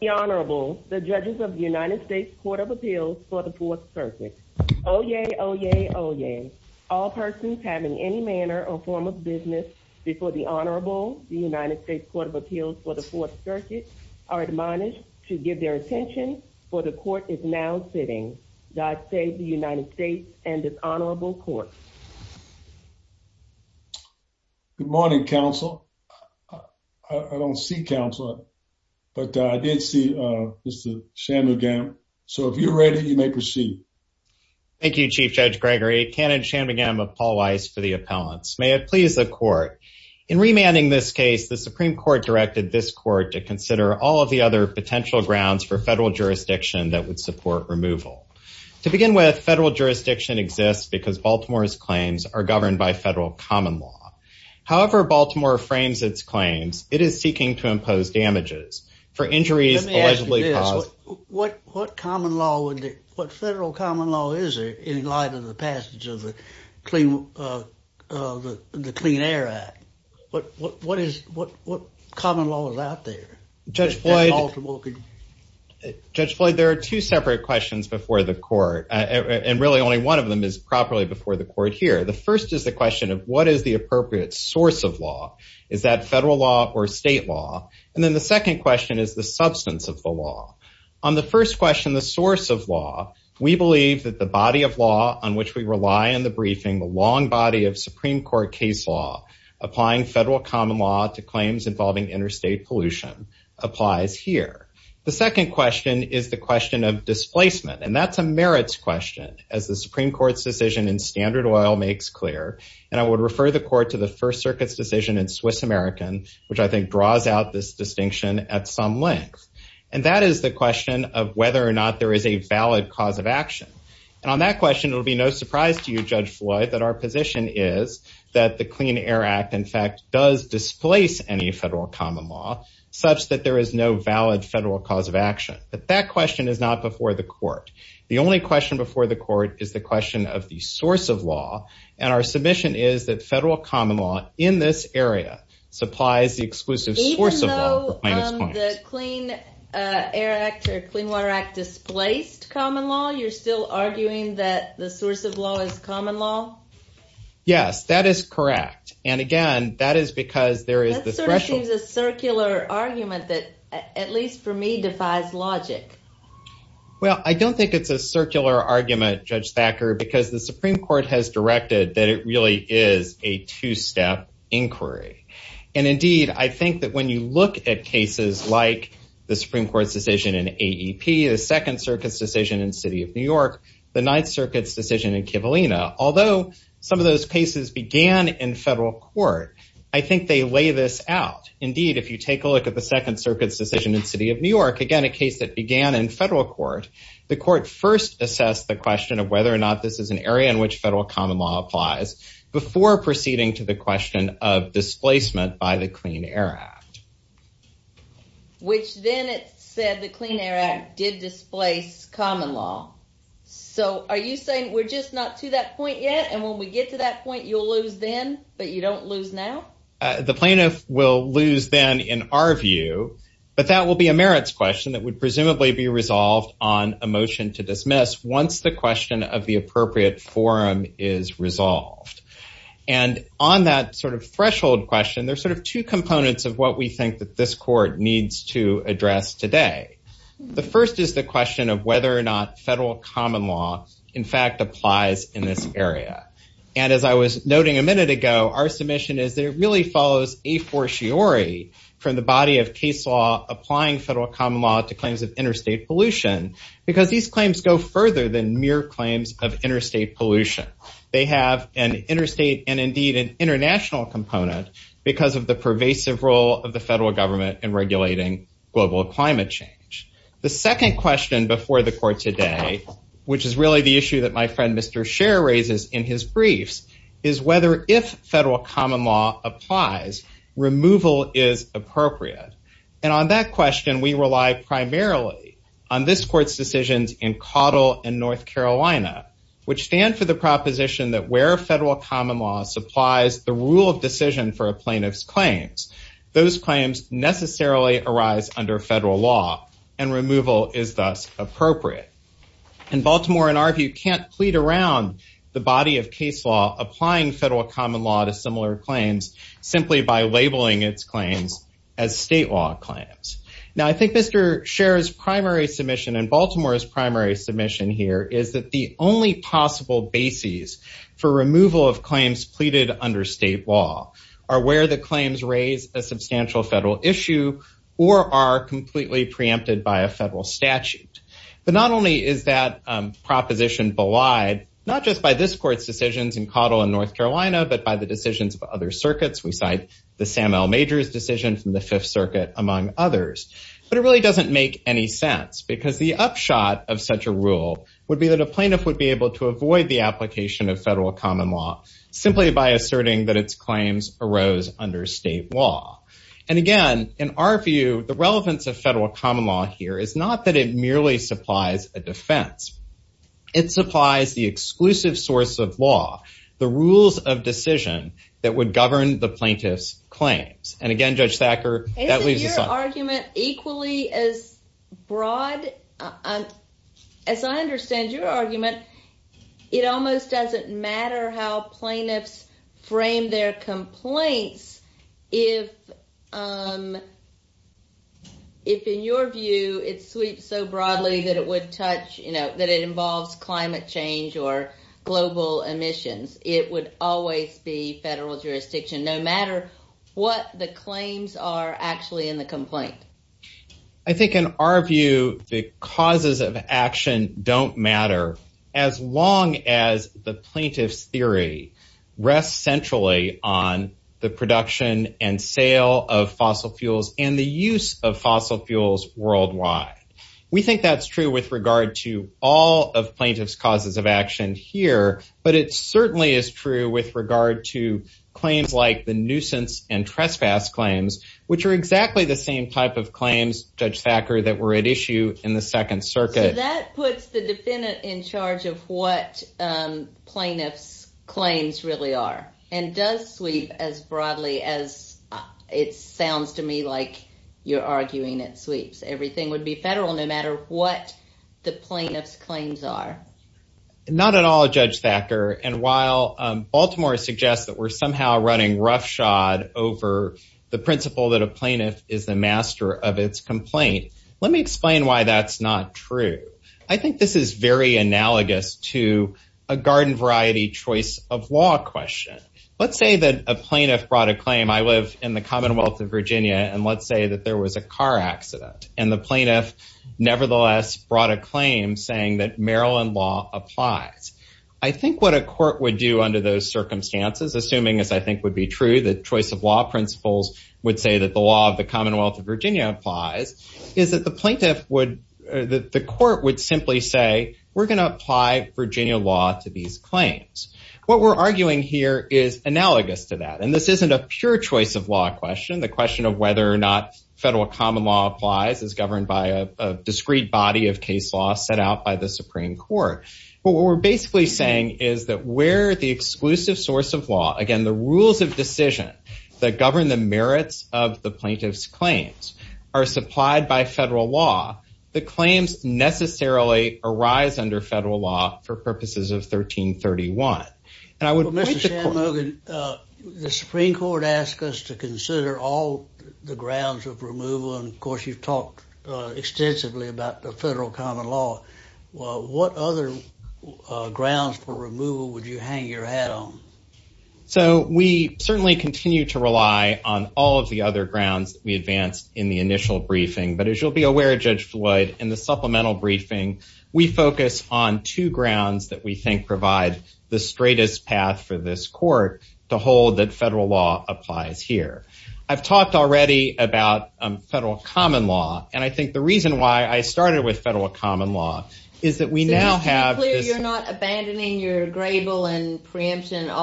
The Honorable, the Judges of the United States Court of Appeals for the Fourth Circuit. Oyez! Oyez! Oyez! All persons having any manner or form of business before the Honorable, the United States Court of Appeals for the Fourth Circuit, are admonished to give their attention, for the Court is now sitting. God save the United States and this Honorable Court. Good morning, Counsel. I don't see Counselor, but I did see Mr. Shanmugam. So if you're ready, you may proceed. Thank you, Chief Judge Gregory. Canon Shanmugam of Paul Weiss for the appellants. May it please the Court. In remanding this case, the Supreme Court directed this Court to consider all of the other potential grounds for federal jurisdiction that would support removal. To begin with, federal jurisdiction exists because Baltimore's claims are governed by federal common law. However Baltimore frames its claims, it is seeking to impose damages for injuries allegedly caused- Let me ask you this. What common law, what federal common law is there in light of the passage of the Clean Air Act? What common law is out there? Judge Floyd, there are two separate questions before the Court, and really only one of them is properly before the Court here. The first is the question of what is the appropriate source of law? Is that federal law or state law? And then the second question is the substance of the law. On the first question, the source of law, we believe that the body of law on which we rely in the briefing, the long body of Supreme Court case law, applying federal common law to claims involving interstate pollution applies here. The second question is the question of displacement, and that's a merits question, as the Supreme Court's decision in Standard Oil makes clear, and I would refer the Court to the First Circuit's decision in Swiss American, which I think draws out this distinction at some length. And that is the question of whether or not there is a valid cause of action. And on that question, it will be no surprise to you, Judge Floyd, that our position is that the Clean Air Act, in fact, does displace any federal common law, such that there is no valid federal cause of action. But that question is not before the Court. The only question before the Court is the question of the source of law, and our submission is that federal common law in this area supplies the exclusive source of law. Even though the Clean Air Act or Clean Water Act displaced common law, you're still arguing that the source of law is common law? Yes, that is correct. And again, that is because there is the threshold. That sort of seems a circular argument that, at least for me, defies logic. Well, I don't think it's a circular argument, Judge Thacker, because the Supreme Court has directed that it really is a two-step inquiry. And indeed, I think that when you look at cases like the Supreme Court's decision in AEP, the Second Circuit's decision in the City of New York, the Ninth Circuit's decision in Kivalina, although some of those cases began in federal court, I think they lay this out. Indeed, if you take a look at the Second Circuit's decision in City of New York, again, a case that began in federal court, the Court first assessed the question of whether or not this is an area in which federal common law applies before proceeding to the question of displacement by the Clean Air Act. Which then it said the Clean Air Act did displace common law. So are you saying we're just not to that point yet, and when we get to that point, you'll lose then, but you don't lose now? The plaintiff will lose then, in our view, but that will be a merits question that would presumably be resolved on a motion to dismiss once the question of the appropriate forum is resolved. And on that sort of threshold question, there's sort of two components of what we think that this Court needs to address today. The first is the question of whether or not federal common law, in fact, applies in this area. And as I was noting a minute ago, our submission is that it really follows a fortiori from the body of case law applying federal common law to claims of interstate pollution, because these claims go further than mere claims of interstate pollution. They have an interstate and indeed an international component because of the pervasive role of federal government in regulating global climate change. The second question before the Court today, which is really the issue that my friend Mr. Scher raises in his briefs, is whether if federal common law applies, removal is appropriate. And on that question, we rely primarily on this Court's decisions in Caudill and North Carolina, which stand for the proposition that where federal common law supplies the claims necessarily arise under federal law, and removal is thus appropriate. And Baltimore, in our view, can't plead around the body of case law applying federal common law to similar claims simply by labeling its claims as state law claims. Now I think Mr. Scher's primary submission and Baltimore's primary submission here is that the only possible bases for removal of claims pleaded under state law are where the federal issue or are completely preempted by a federal statute. But not only is that proposition belied, not just by this Court's decisions in Caudill and North Carolina, but by the decisions of other circuits. We cite the Sam L. Majors decision from the Fifth Circuit, among others. But it really doesn't make any sense, because the upshot of such a rule would be that a plaintiff would be able to avoid the application of federal common law simply by asserting that its claims arose under state law. And again, in our view, the relevance of federal common law here is not that it merely supplies a defense. It supplies the exclusive source of law, the rules of decision that would govern the plaintiff's claims. And again, Judge Thacker, that leaves us unanswered. Isn't your argument equally as broad? As I understand your argument, it almost doesn't matter how plaintiffs frame their complaints if, in your view, it sweeps so broadly that it involves climate change or global emissions. It would always be federal jurisdiction, no matter what the claims are actually in the complaint. I think in our view, the causes of action don't matter, as long as the plaintiff's theory rests centrally on the production and sale of fossil fuels and the use of fossil fuels worldwide. We think that's true with regard to all of plaintiffs' causes of action here, but it certainly is true with regard to claims like the nuisance and trespass claims, which are exactly the same type of claims, Judge Thacker, that were at issue in the Second Circuit. That puts the defendant in charge of what plaintiffs' claims really are and does sweep as broadly as it sounds to me like you're arguing it sweeps. Everything would be federal, no matter what the plaintiff's claims are. Not at all, Judge Thacker, and while Baltimore suggests that we're somehow running roughshod over the principle that a plaintiff is the master of its complaint, let me explain why that's not true. I think this is very analogous to a garden variety choice of law question. Let's say that a plaintiff brought a claim, I live in the Commonwealth of Virginia, and let's say that there was a car accident, and the plaintiff nevertheless brought a claim saying that Maryland law applies. I think what a court would do under those circumstances, assuming as I think would be true, the choice of law principles would say that the law of the Commonwealth of Virginia applies, is that the court would simply say, we're going to apply Virginia law to these claims. What we're arguing here is analogous to that, and this isn't a pure choice of law question. The question of whether or not federal common law applies is governed by a discrete body of case law set out by the Supreme Court, but what we're basically saying is that where the exclusive source of law, again, the rules of decision that govern the merits of the are supplied by federal law, the claims necessarily arise under federal law for purposes of 1331. Mr. Shanmugam, the Supreme Court asked us to consider all the grounds of removal, and of course you've talked extensively about the federal common law. What other grounds for removal would you hang your hat on? So we certainly continue to rely on all of the other grounds that we advanced in the initial briefing, but as you'll be aware, Judge Floyd, in the supplemental briefing, we focus on two grounds that we think provide the straightest path for this court to hold that federal law applies here. I've talked already about federal common law, and I think the reason why I started with federal common law is that we now have this- All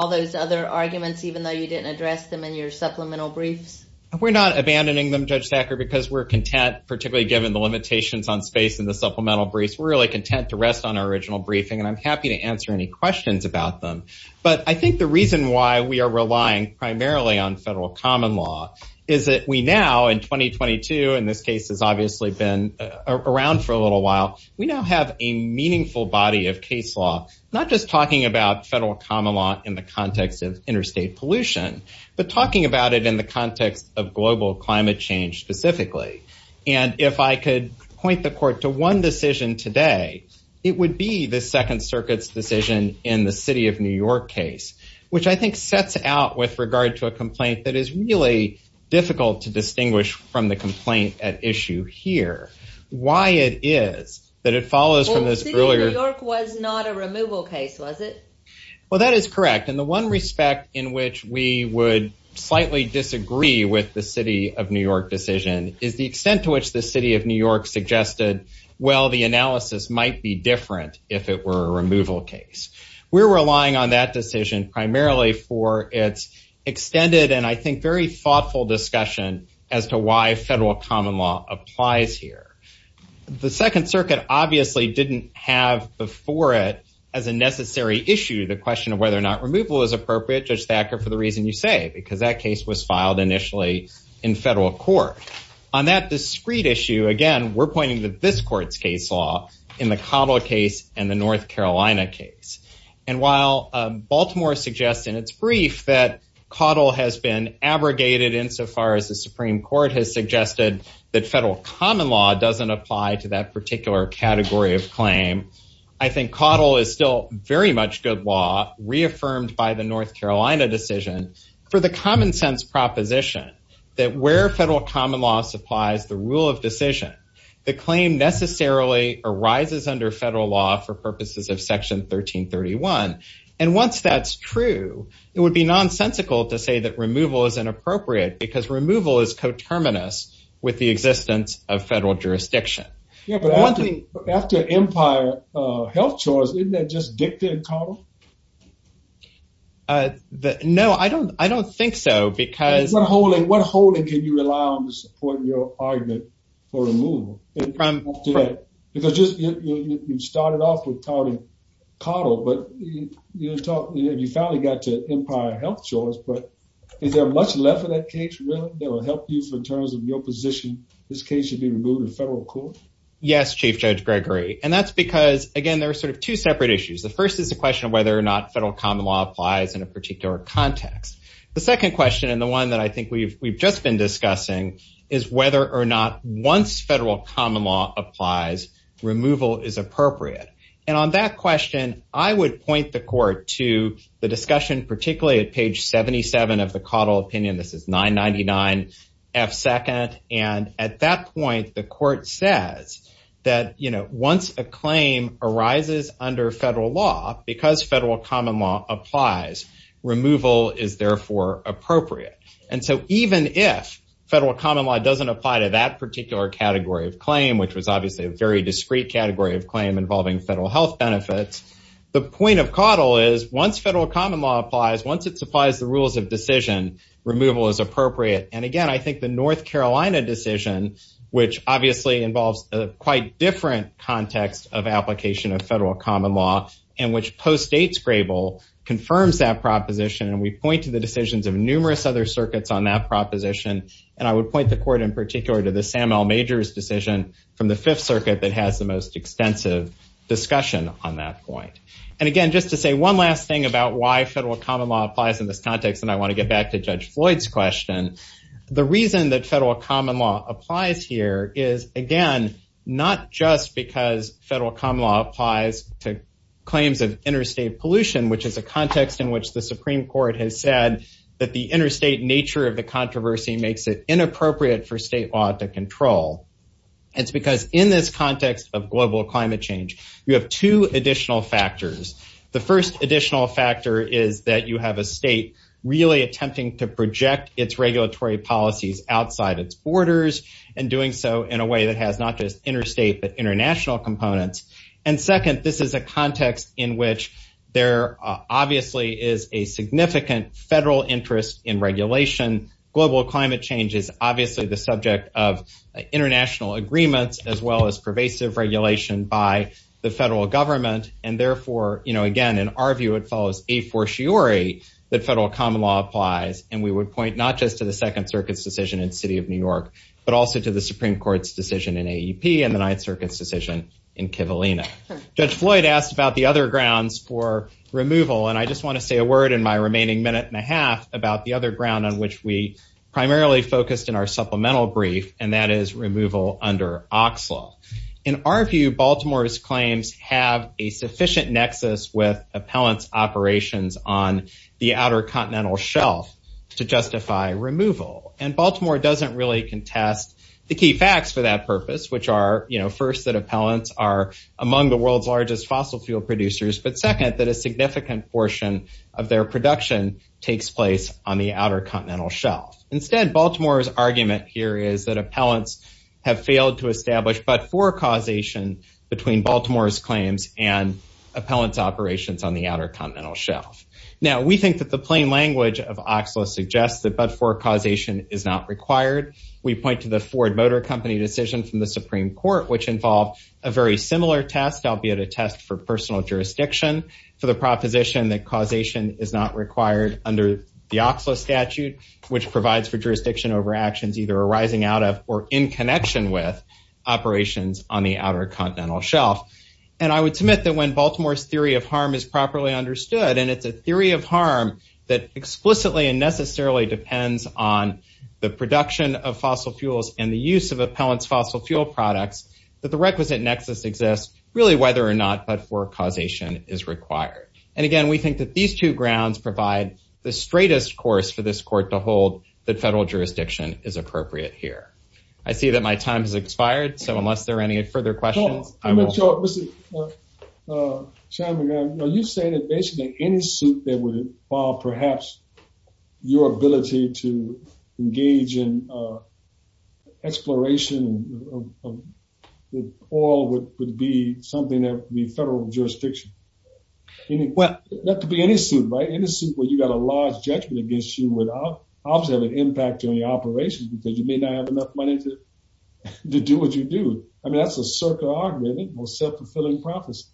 those other arguments, even though you didn't address them in your supplemental briefs? We're not abandoning them, Judge Sacker, because we're content, particularly given the limitations on space in the supplemental briefs. We're really content to rest on our original briefing, and I'm happy to answer any questions about them, but I think the reason why we are relying primarily on federal common law is that we now, in 2022, and this case has obviously been around for a little while, we now have a meaningful body of case law, not just talking about federal common law in the context of interstate pollution, but talking about it in the context of global climate change specifically, and if I could point the court to one decision today, it would be the Second Circuit's decision in the City of New York case, which I think sets out with regard to a complaint that is really difficult to distinguish from the complaint at issue here. Why it is that it follows from this earlier- Well, City of New York was not a removal case, was it? Well, that is correct, and the one respect in which we would slightly disagree with the City of New York decision is the extent to which the City of New York suggested, well, the analysis might be different if it were a removal case. We're relying on that decision primarily for its extended and I think very thoughtful discussion as to why federal common law applies here. The Second Circuit obviously didn't have before it as a necessary issue the question of whether or not removal is appropriate, Judge Thacker, for the reason you say, because that case was filed initially in federal court. On that discrete issue, again, we're pointing to this court's case law in the Caudill case and the North Carolina case, and while Baltimore suggests in its brief that Caudill has been abrogated insofar as the Supreme Court has suggested that federal common law doesn't apply to that particular category of claim, I think Caudill is still very much good law reaffirmed by the North Carolina decision for the common sense proposition that where federal common law supplies the rule of decision, the claim necessarily arises under federal law for purposes of Section 1331, and once that's true, it would be nonsensical to say that removal is inappropriate, because removal is coterminous with the existence of federal jurisdiction. Yeah, but after Empire Health Choice, isn't that just dicta in Caudill? No, I don't think so, because... What holding can you rely on to support your argument for removal? Because you started off with counting Caudill, but you finally got to Empire Health Choice, but is there much left of that case that will help you in terms of your position, this case should be removed in federal court? Yes, Chief Judge Gregory, and that's because, again, there are sort of two separate issues. The first is the question of whether or not federal common law applies in a particular context. The second question, and the one that I think we've just been discussing, is whether or not once federal common law applies, removal is appropriate, and on that question, I would point the court to the discussion, particularly at page 77 of the Caudill opinion, this is 999F2nd, and at that point, the court says that once a claim arises under federal law, because federal common law applies, removal is therefore appropriate. And so even if federal common law doesn't apply to that particular category of claim, which was obviously a very discrete category of claim involving federal health benefits, the point of Caudill is once federal common law applies, once it supplies the rules of decision, removal is appropriate, and again, I think the North Carolina decision, which obviously involves a quite different context of application of federal common law, and which postdates Grable, confirms that proposition, and we point to the decisions of numerous other circuits on that proposition, and I would point the court in particular to the Sam L. Majors decision from the Fifth Circuit that has the most extensive discussion on that point. And again, just to say one last thing about why federal common law applies in this context, and I want to get back to Judge Floyd's question, the reason that federal common law applies here is, again, not just because federal common law applies to claims of interstate pollution, which is a context in which the Supreme Court has said that the interstate nature of the controversy makes it inappropriate for state law to control, it's because in this context of global climate change, you have two additional factors. The first additional factor is that you have a state really attempting to project its regulatory policies outside its borders, and doing so in a way that has not just interstate but international components, and second, this is a context in which there obviously is a significant federal interest in regulation, global climate change is obviously the subject of international agreements as well as pervasive regulation by the federal government, and therefore, again, in our view, it follows a fortiori that federal common law applies, and we would point not just to the Second Circuit's decision in the city of New York, but also to the Supreme Court's decision in AEP and the Ninth Circuit's decision in Kivalina. Judge Floyd asked about the other grounds for removal, and I just want to say a word in my remaining minute and a half about the other ground on which we primarily focused in our supplemental brief, and that is removal under OXLA. In our view, Baltimore's claims have a sufficient nexus with appellants' operations on the outer continental shelf to justify removal, and Baltimore doesn't really contest the key facts for that purpose, which are, you know, first, that appellants are among the world's largest fossil fuel producers, but second, that a significant portion of their production takes place on the outer continental shelf. Instead, Baltimore's argument here is that appellants have failed to establish but-for causation between Baltimore's claims and appellants' operations on the outer continental shelf. Now, we think that the plain language of OXLA suggests that but-for causation is not required. We point to the Ford Motor Company decision from the Supreme Court, which involved a very similar test, albeit a test for personal jurisdiction, for the proposition that causation is not a statute which provides for jurisdiction over actions either arising out of or in connection with operations on the outer continental shelf, and I would submit that when Baltimore's theory of harm is properly understood, and it's a theory of harm that explicitly and necessarily depends on the production of fossil fuels and the use of appellants' fossil fuel products, that the requisite nexus exists really whether or not but-for causation is required, and again, we think that these two grounds provide the straightest course for this court to hold that federal jurisdiction is appropriate here. I see that my time has expired, so unless there are any further questions, I won't- Hold on. Let me show it. Let's see. Chairman, you say that basically any suit that would involve perhaps your ability to engage in exploration of oil would be something that would be federal jurisdiction. Well- That could be any suit, right? Any suit where you've got a large judgment against you would obviously have an impact on your operations because you may not have enough money to do what you do. I mean, that's a circular argument, I think, or a self-fulfilling prophecy.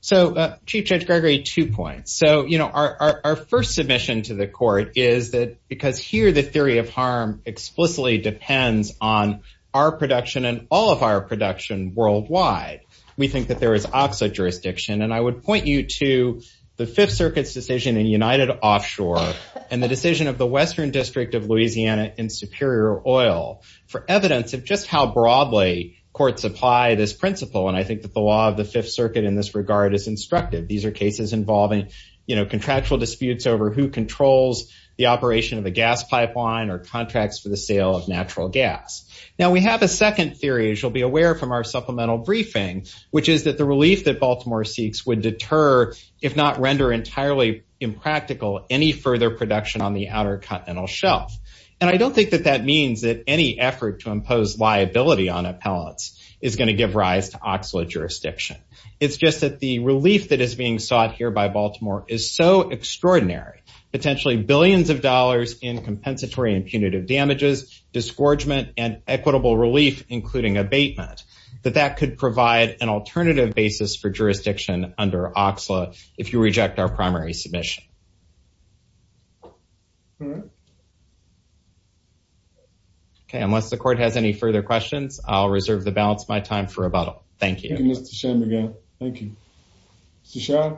So Chief Judge Gregory, two points. So our first submission to the court is that because here the theory of harm explicitly depends on our production and all of our production worldwide, we think that there is opposite jurisdiction. And I would point you to the Fifth Circuit's decision in United Offshore and the decision of the Western District of Louisiana in Superior Oil for evidence of just how broadly courts apply this principle. And I think that the law of the Fifth Circuit in this regard is instructive. These are cases involving contractual disputes over who controls the operation of a gas pipeline or contracts for the sale of natural gas. Now we have a second theory, as you'll be aware from our supplemental briefing, which is that the relief that Baltimore seeks would deter, if not render entirely impractical, any further production on the outer continental shelf. And I don't think that that means that any effort to impose liability on appellants is going to give rise to oxalate jurisdiction. It's just that the relief that is being sought here by Baltimore is so extraordinary, potentially billions of dollars in compensatory and punitive damages, disgorgement, and equitable relief, including abatement, that that could provide an alternative basis for jurisdiction under oxalate if you reject our primary submission. Okay, unless the court has any further questions, I'll reserve the balance of my time for rebuttal. Thank you. Thank you, Mr. Shanmugam. Thank you. Mr. Shah?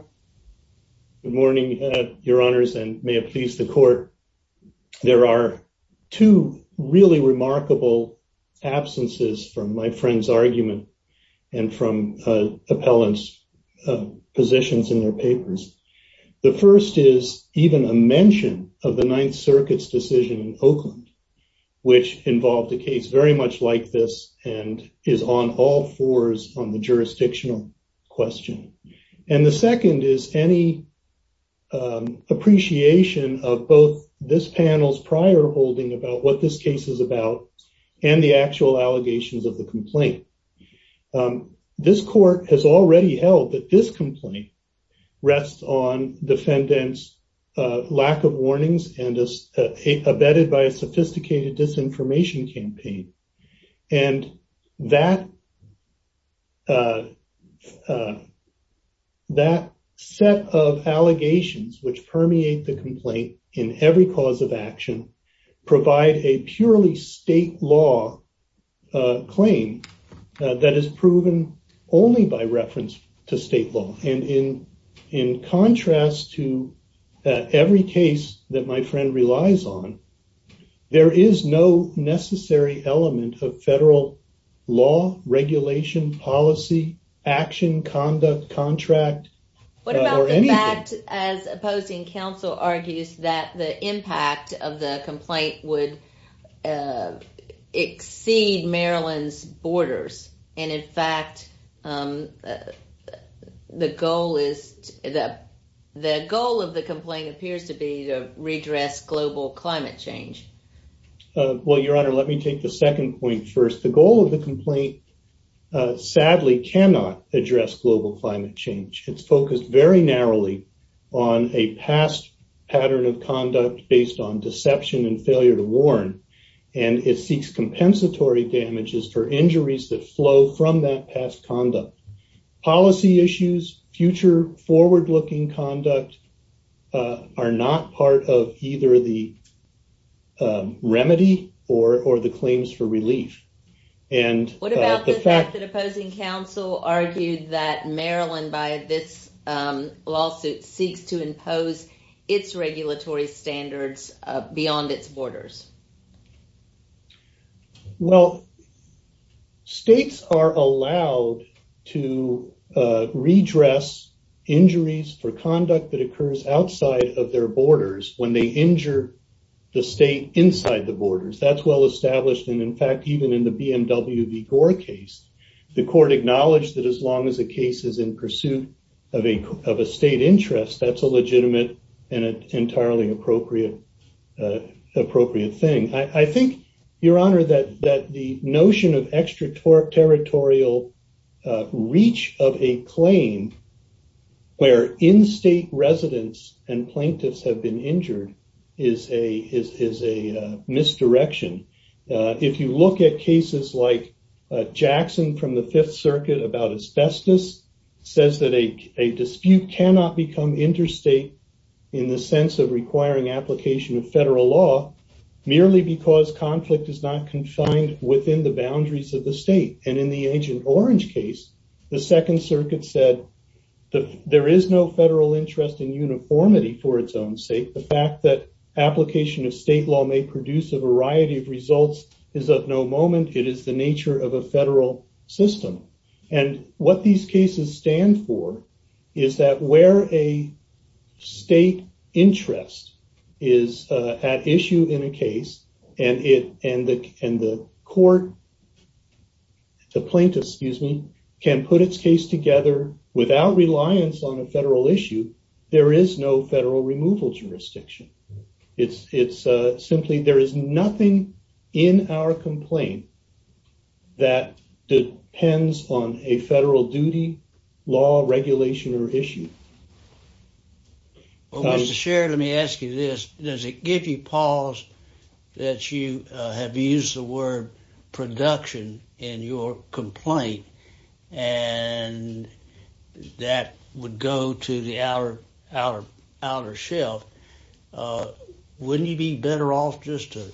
Good morning, your honors, and may it please the court. There are two really remarkable absences from my friend's argument and from appellants' positions in their papers. The first is even a mention of the Ninth Circuit's decision in Oakland, which involved a case very much like this and is on all fours on the jurisdictional question. And the second is any appreciation of both this panel's prior holding about what this case is about and the actual allegations of the complaint. This court has already held that this complaint rests on defendants' lack of warnings and is abetted by a sophisticated disinformation campaign. And that set of allegations which permeate the complaint in every cause of action provide a purely state law claim that is proven only by reference to state law. And in contrast to every case that my friend relies on, there is no necessary element of federal law, regulation, policy, action, conduct, contract, or anything. What about the fact, as opposing counsel argues, that the impact of the complaint would exceed Maryland's borders and, in fact, the goal of the complaint appears to be to redress global climate change? Well, Your Honor, let me take the second point first. The goal of the complaint, sadly, cannot address global climate change. It's focused very narrowly on a past pattern of conduct based on deception and failure to warn, and it seeks compensatory damages for injuries that flow from that past conduct. Policy issues, future forward-looking conduct, are not part of either the remedy or the claims for relief. What about the fact that opposing counsel argued that Maryland, by this lawsuit, seeks to impose its regulatory standards beyond its borders? Well, states are allowed to redress injuries for conduct that occurs outside of their borders when they injure the state inside the borders. That's well established. And, in fact, even in the BMW v. Gore case, the court acknowledged that as long as a case is in pursuit of a state interest, that's a legitimate and entirely appropriate thing. I think, Your Honor, that the notion of extraterritorial reach of a claim where in-state residents and plaintiffs have been injured is a misdirection. If you look at cases like Jackson from the Fifth Circuit about asbestos, it says that a dispute cannot become interstate in the sense of requiring application of federal law merely because conflict is not confined within the boundaries of the state. And in the Agent Orange case, the Second Circuit said that there is no federal interest in uniformity for its own sake. The fact that application of state law may produce a variety of results is of no moment. It is the nature of a federal system. And what these cases stand for is that where a state interest is at issue in a case and the court, the plaintiff, excuse me, can put its case together without reliance on a federal issue, there is no federal removal jurisdiction. It's simply there is nothing in our complaint that depends on a federal duty, law, regulation, or issue. Well, Mr. Sherrod, let me ask you this. Does it give you pause that you have used the word production in your complaint? And that would go to the outer shelf. Wouldn't you be better off just to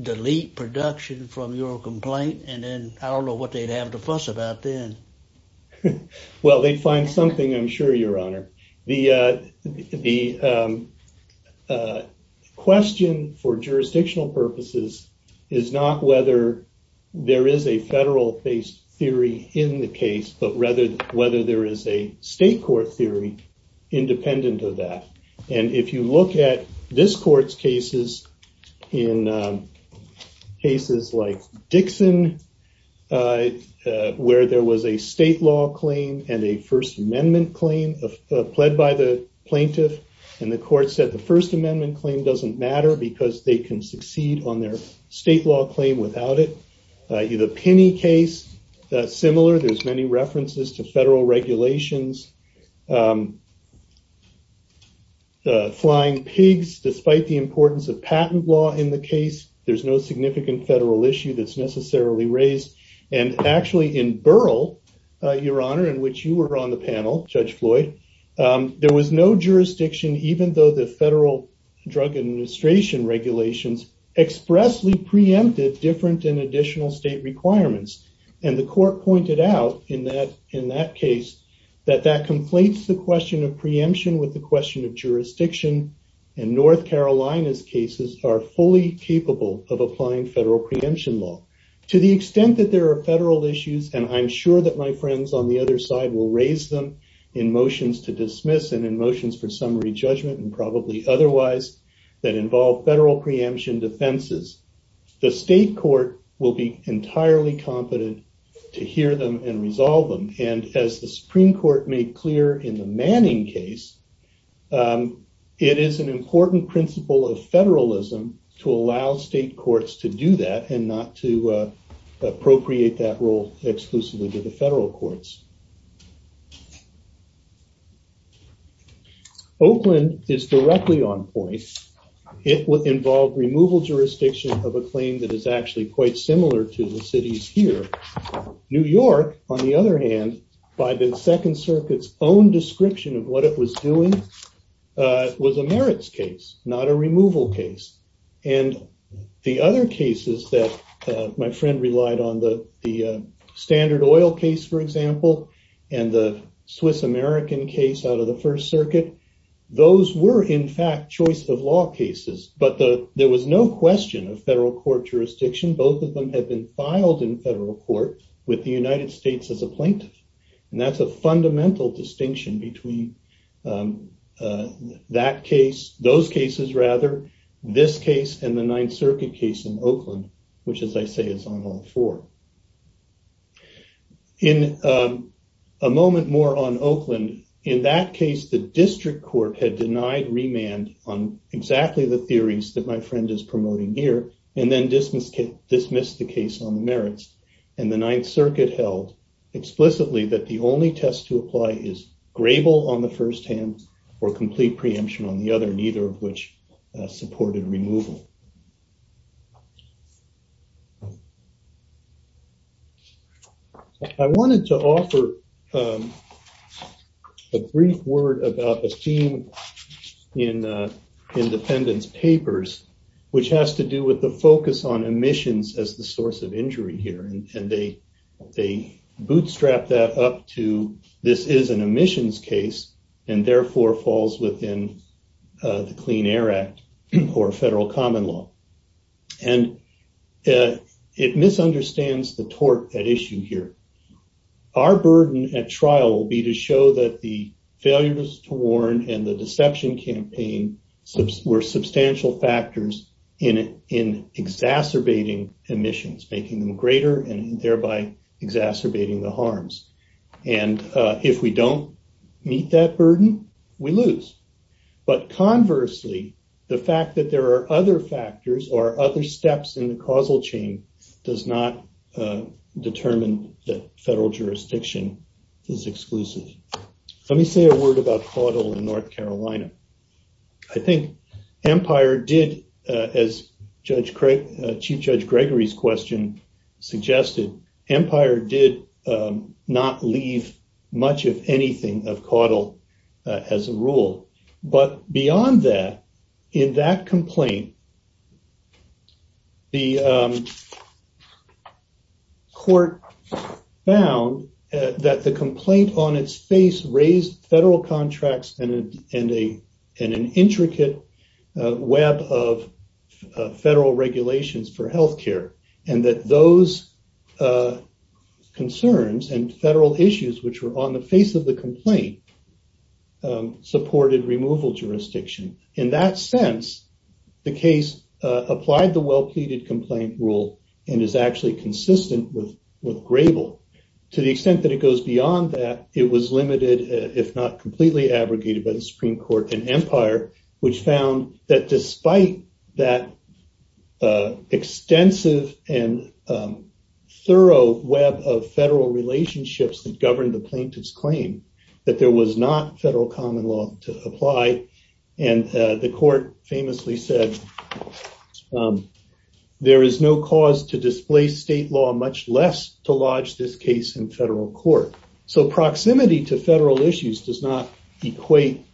delete production from your complaint? And then I don't know what they'd have to fuss about then. Well, they'd find something, I'm sure, Your Honor. The question for jurisdictional purposes is not whether there is a federal-based theory in the case, but rather whether there is a state court theory independent of that. And if you look at this court's cases, in cases like Dixon, where there was a state law claim and a First Amendment claim pled by the plaintiff, and the court said the First Amendment claim doesn't matter because they can succeed on their state law claim without it. The Pinney case, similar, there's many references to federal regulations. Flying Pigs, despite the importance of patent law in the case, there's no significant federal issue that's necessarily raised. And actually, in Burrell, Your Honor, in which you were on the panel, Judge Floyd, there was no jurisdiction, even though the federal drug administration regulations expressly preempted different and additional state requirements. And the court pointed out in that case that that conflates the question of preemption with the question of jurisdiction, and North Carolina's cases are fully capable of applying federal preemption law. To the extent that there are federal issues, and I'm sure that my friends on the other side will raise them in motions to dismiss and in motions for summary judgment and probably otherwise that involve federal preemption defenses, the state court will be entirely competent to hear them and resolve them. And as the Supreme Court made clear in the Manning case, it is an important principle of federalism to allow state courts to do that and not to appropriate that role exclusively to the federal courts. Oakland is directly on point. It involved removal jurisdiction of a claim that is actually quite similar to the cities here. New York, on the other hand, by the Second Circuit's own description of what it was doing, was a merits case, not a removal case. And the other cases that my friend relied on, the standard oil case, for example, and the Swiss American case out of the First Circuit, those were, in fact, choice of law cases. But there was no question of federal court jurisdiction. Both of them had been filed in federal court with the United States as a plaintiff. And that's a fundamental distinction between that case, those cases, rather, this case and the Ninth Circuit case in Oakland, which, as I say, is on all four. In a moment more on Oakland, in that case, the district court had denied remand on exactly the theories that my friend is promoting here and then dismissed the case on the merits. And the Ninth Circuit held explicitly that the only test to apply is grable on the first hand or complete preemption on the other, neither of which supported removal. I wanted to offer a brief word about a theme in the defendant's papers, which has to do with the focus on emissions as the source of injury here. And they bootstrap that up to this is an emissions case and therefore falls within the Clean Air Act or federal common law. And it misunderstands the tort at issue here. Our burden at trial will be to show that the failures to warn and the deception campaign were substantial factors in exacerbating emissions, making them greater and thereby exacerbating the harms. And if we don't meet that burden, we lose. But conversely, the fact that there are other factors or other steps in the causal chain does not determine that federal jurisdiction is exclusive. Let me say a word about Caudill in North Carolina. I think Empire did, as Chief Judge Gregory's question suggested, Empire did not leave much of anything of Caudill as a rule. But beyond that, in that complaint, the court found that the complaint on its face raised federal contracts and an intricate web of federal regulations for health care. And that those concerns and federal issues which were on the face of the complaint supported removal jurisdiction. In that sense, the case applied the well-pleaded complaint rule and is actually consistent with Grable. To the extent that it goes beyond that, it was limited, if not completely abrogated by the Supreme Court and Empire, which found that despite that extensive and thorough web of federal relationships that governed the plaintiff's claim, that there was not federal common law to apply. And the court famously said, there is no cause to display state law, much less to lodge this case in federal court. So proximity to federal issues does not equate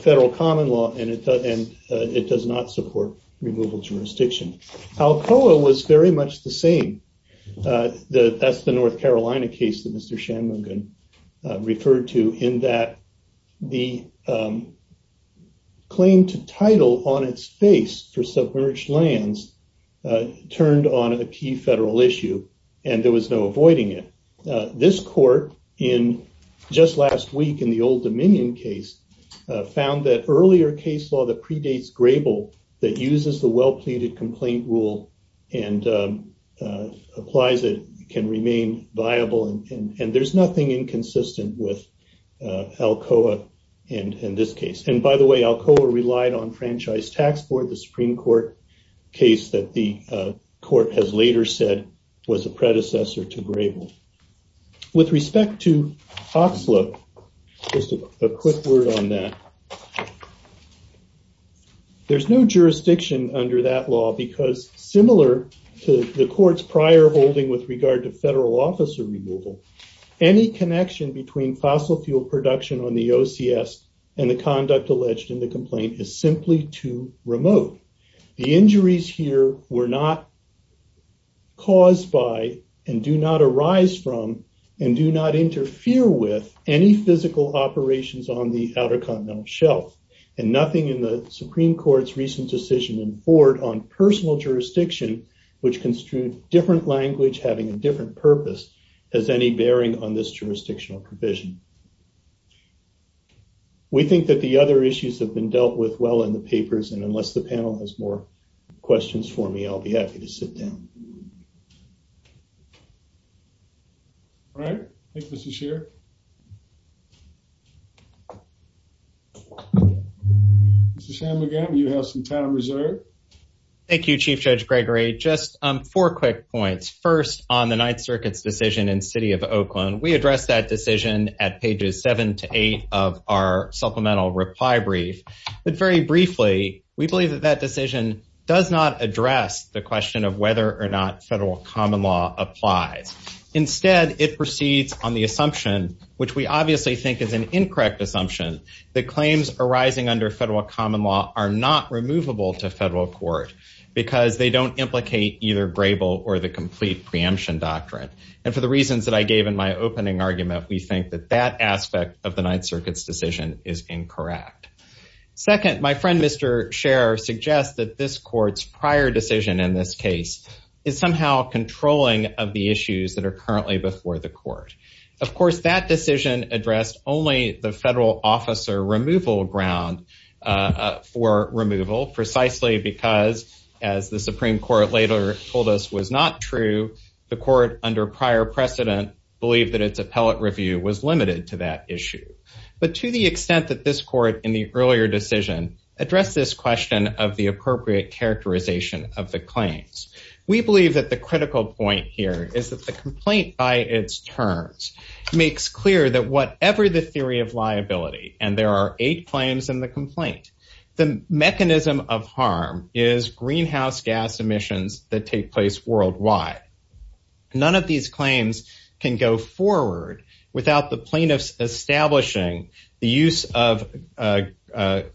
federal common law, and it does not support removal jurisdiction. Alcoa was very much the same. That's the North Carolina case that Mr. Shanmugam referred to, in that the claim to title on its face for submerged lands turned on a key federal issue, and there was no avoiding it. This court, just last week in the Old Dominion case, found that earlier case law that predates the complaint rule and applies it, can remain viable, and there's nothing inconsistent with Alcoa in this case. And by the way, Alcoa relied on Franchise Tax Board, the Supreme Court case that the court has later said was a predecessor to Grable. With respect to Oxlip, just a quick word on that. There's no jurisdiction under that law, because similar to the court's prior holding with regard to federal officer removal, any connection between fossil fuel production on the OCS and the conduct alleged in the complaint is simply too remote. The injuries here were not caused by, and do not arise from, and do not interfere with, any physical operations on the Outer Continental Shelf. And nothing in the Supreme Court's recent decision in Ford on personal jurisdiction, which construed different language having a different purpose, has any bearing on this jurisdictional provision. We think that the other issues have been dealt with well in the papers, and unless the panel has more questions for me, I'll be happy to sit down. All right. Thank you, Mr. Sheriff. Mr. Shanmugam, you have some time reserved. Thank you, Chief Judge Gregory. Just four quick points. First, on the Ninth Circuit's decision in the City of Oakland, we addressed that decision at pages seven to eight of our supplemental reply brief. But very briefly, we believe that that decision does not address the question of whether or not federal common law applies. Instead, it proceeds on the assumption, which we obviously think is an incorrect assumption, that claims arising under federal common law are not removable to federal court, because they don't implicate either grable or the complete preemption doctrine. And for the reasons that I gave in my opening argument, we think that that aspect of the Ninth Circuit's decision is incorrect. Second, my friend Mr. Sheriff suggests that this court's prior decision in this case is somehow controlling of the issues that are currently before the court. Of course, that decision addressed only the federal officer removal ground for removal, precisely because, as the Supreme Court later told us was not true, the court under prior precedent believed that its appellate review was limited to that issue. But to the extent that this court in the earlier decision addressed this question of the appropriate characterization of the claims. We believe that the critical point here is that the complaint by its terms makes clear that whatever the theory of liability, and there are eight claims in the complaint, the mechanism of harm is greenhouse gas emissions that take place worldwide. None of these claims can go forward without the plaintiffs establishing the use of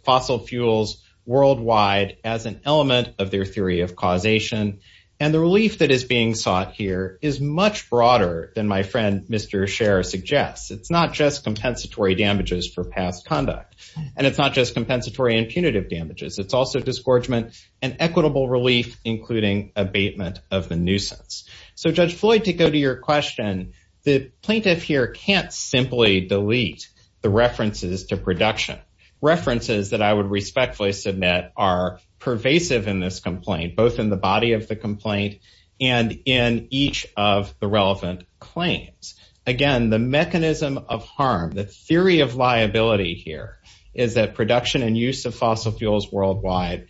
fossil fuels worldwide as an element of their theory of causation. And the relief that is being sought here is much broader than my friend Mr. Sheriff suggests. It's not just compensatory damages for past conduct, and it's not just compensatory and punitive damages. It's also disgorgement and equitable relief, including abatement of the nuisance. So Judge Floyd, to go to your question, the plaintiff here can't simply delete the references to production, references that I would respectfully submit are pervasive in this complaint, both in the body of the complaint and in each of the relevant claims. Again, the mechanism of harm, the theory of liability here is that production and use of fossil fuels worldwide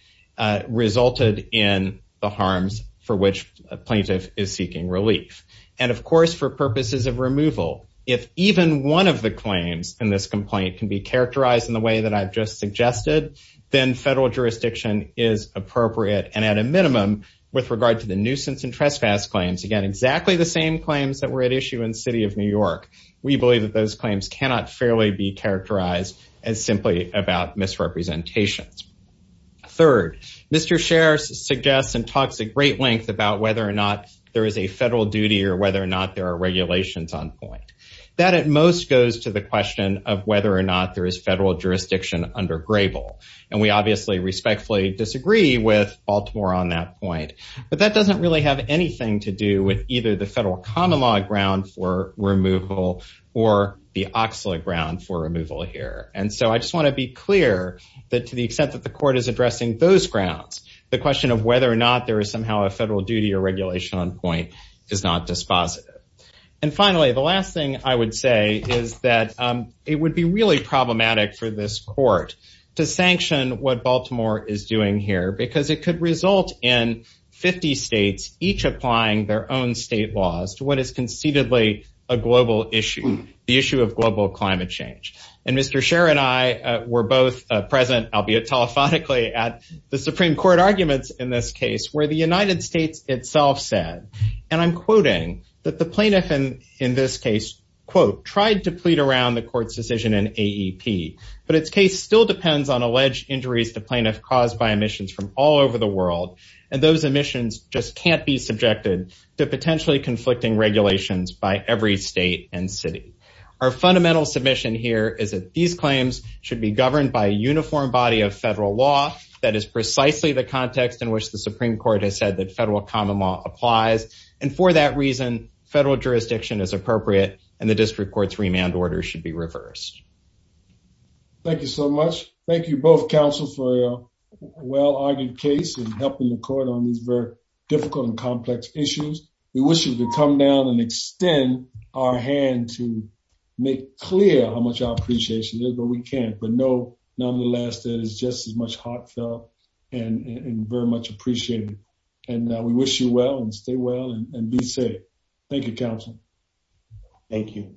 resulted in the harms for which a plaintiff is seeking relief. And of course, for purposes of removal, if even one of the claims in this complaint can be characterized in the way that I've just suggested, then federal jurisdiction is appropriate. And at a minimum, with regard to the nuisance and trespass claims, again, exactly the same claims that were at issue in the city of New York, we believe that those claims cannot fairly be characterized as simply about misrepresentations. Third, Mr. Sheriff suggests and talks at great length about whether or not there is a federal duty or whether or not there are regulations on point. That at most goes to the question of whether or not there is federal jurisdiction under Grable. And we obviously respectfully disagree with Baltimore on that point. But that doesn't really have anything to do with either the federal common law ground for removal or the OCSLA ground for removal here. And so I just want to be clear that to the extent that the court is addressing those grounds, the question of whether or not there is somehow a federal duty or regulation on point is not dispositive. And finally, the last thing I would say is that it would be really problematic for this court to sanction what Baltimore is doing here, because it could result in 50 states, each applying their own state laws to what is concededly a global issue, the issue of global climate change. And Mr. Sheriff and I were both present, albeit telephonically, at the Supreme Court arguments in this case, where the United States itself said, and I'm quoting, that the plaintiff in this case, quote, tried to plead around the court's decision in AEP, but its case still depends on alleged injuries to plaintiff caused by emissions from all over the world. And those emissions just can't be subjected to potentially conflicting regulations by every state and city. Our fundamental submission here is that these claims should be governed by a uniform body of federal law. That is precisely the context in which the Supreme Court has said that federal common law applies. And for that reason, federal jurisdiction is appropriate, and the district court's remand order should be reversed. Thank you so much. Thank you both, counsel, for a well-argued case in helping the court on these very difficult and complex issues. We wish you could come down and extend our hand to make clear how much our appreciation is, but we can't. But nonetheless, that is just as much heartfelt and very much appreciated. And we wish you well and stay well and be safe. Thank you, counsel. Thank you.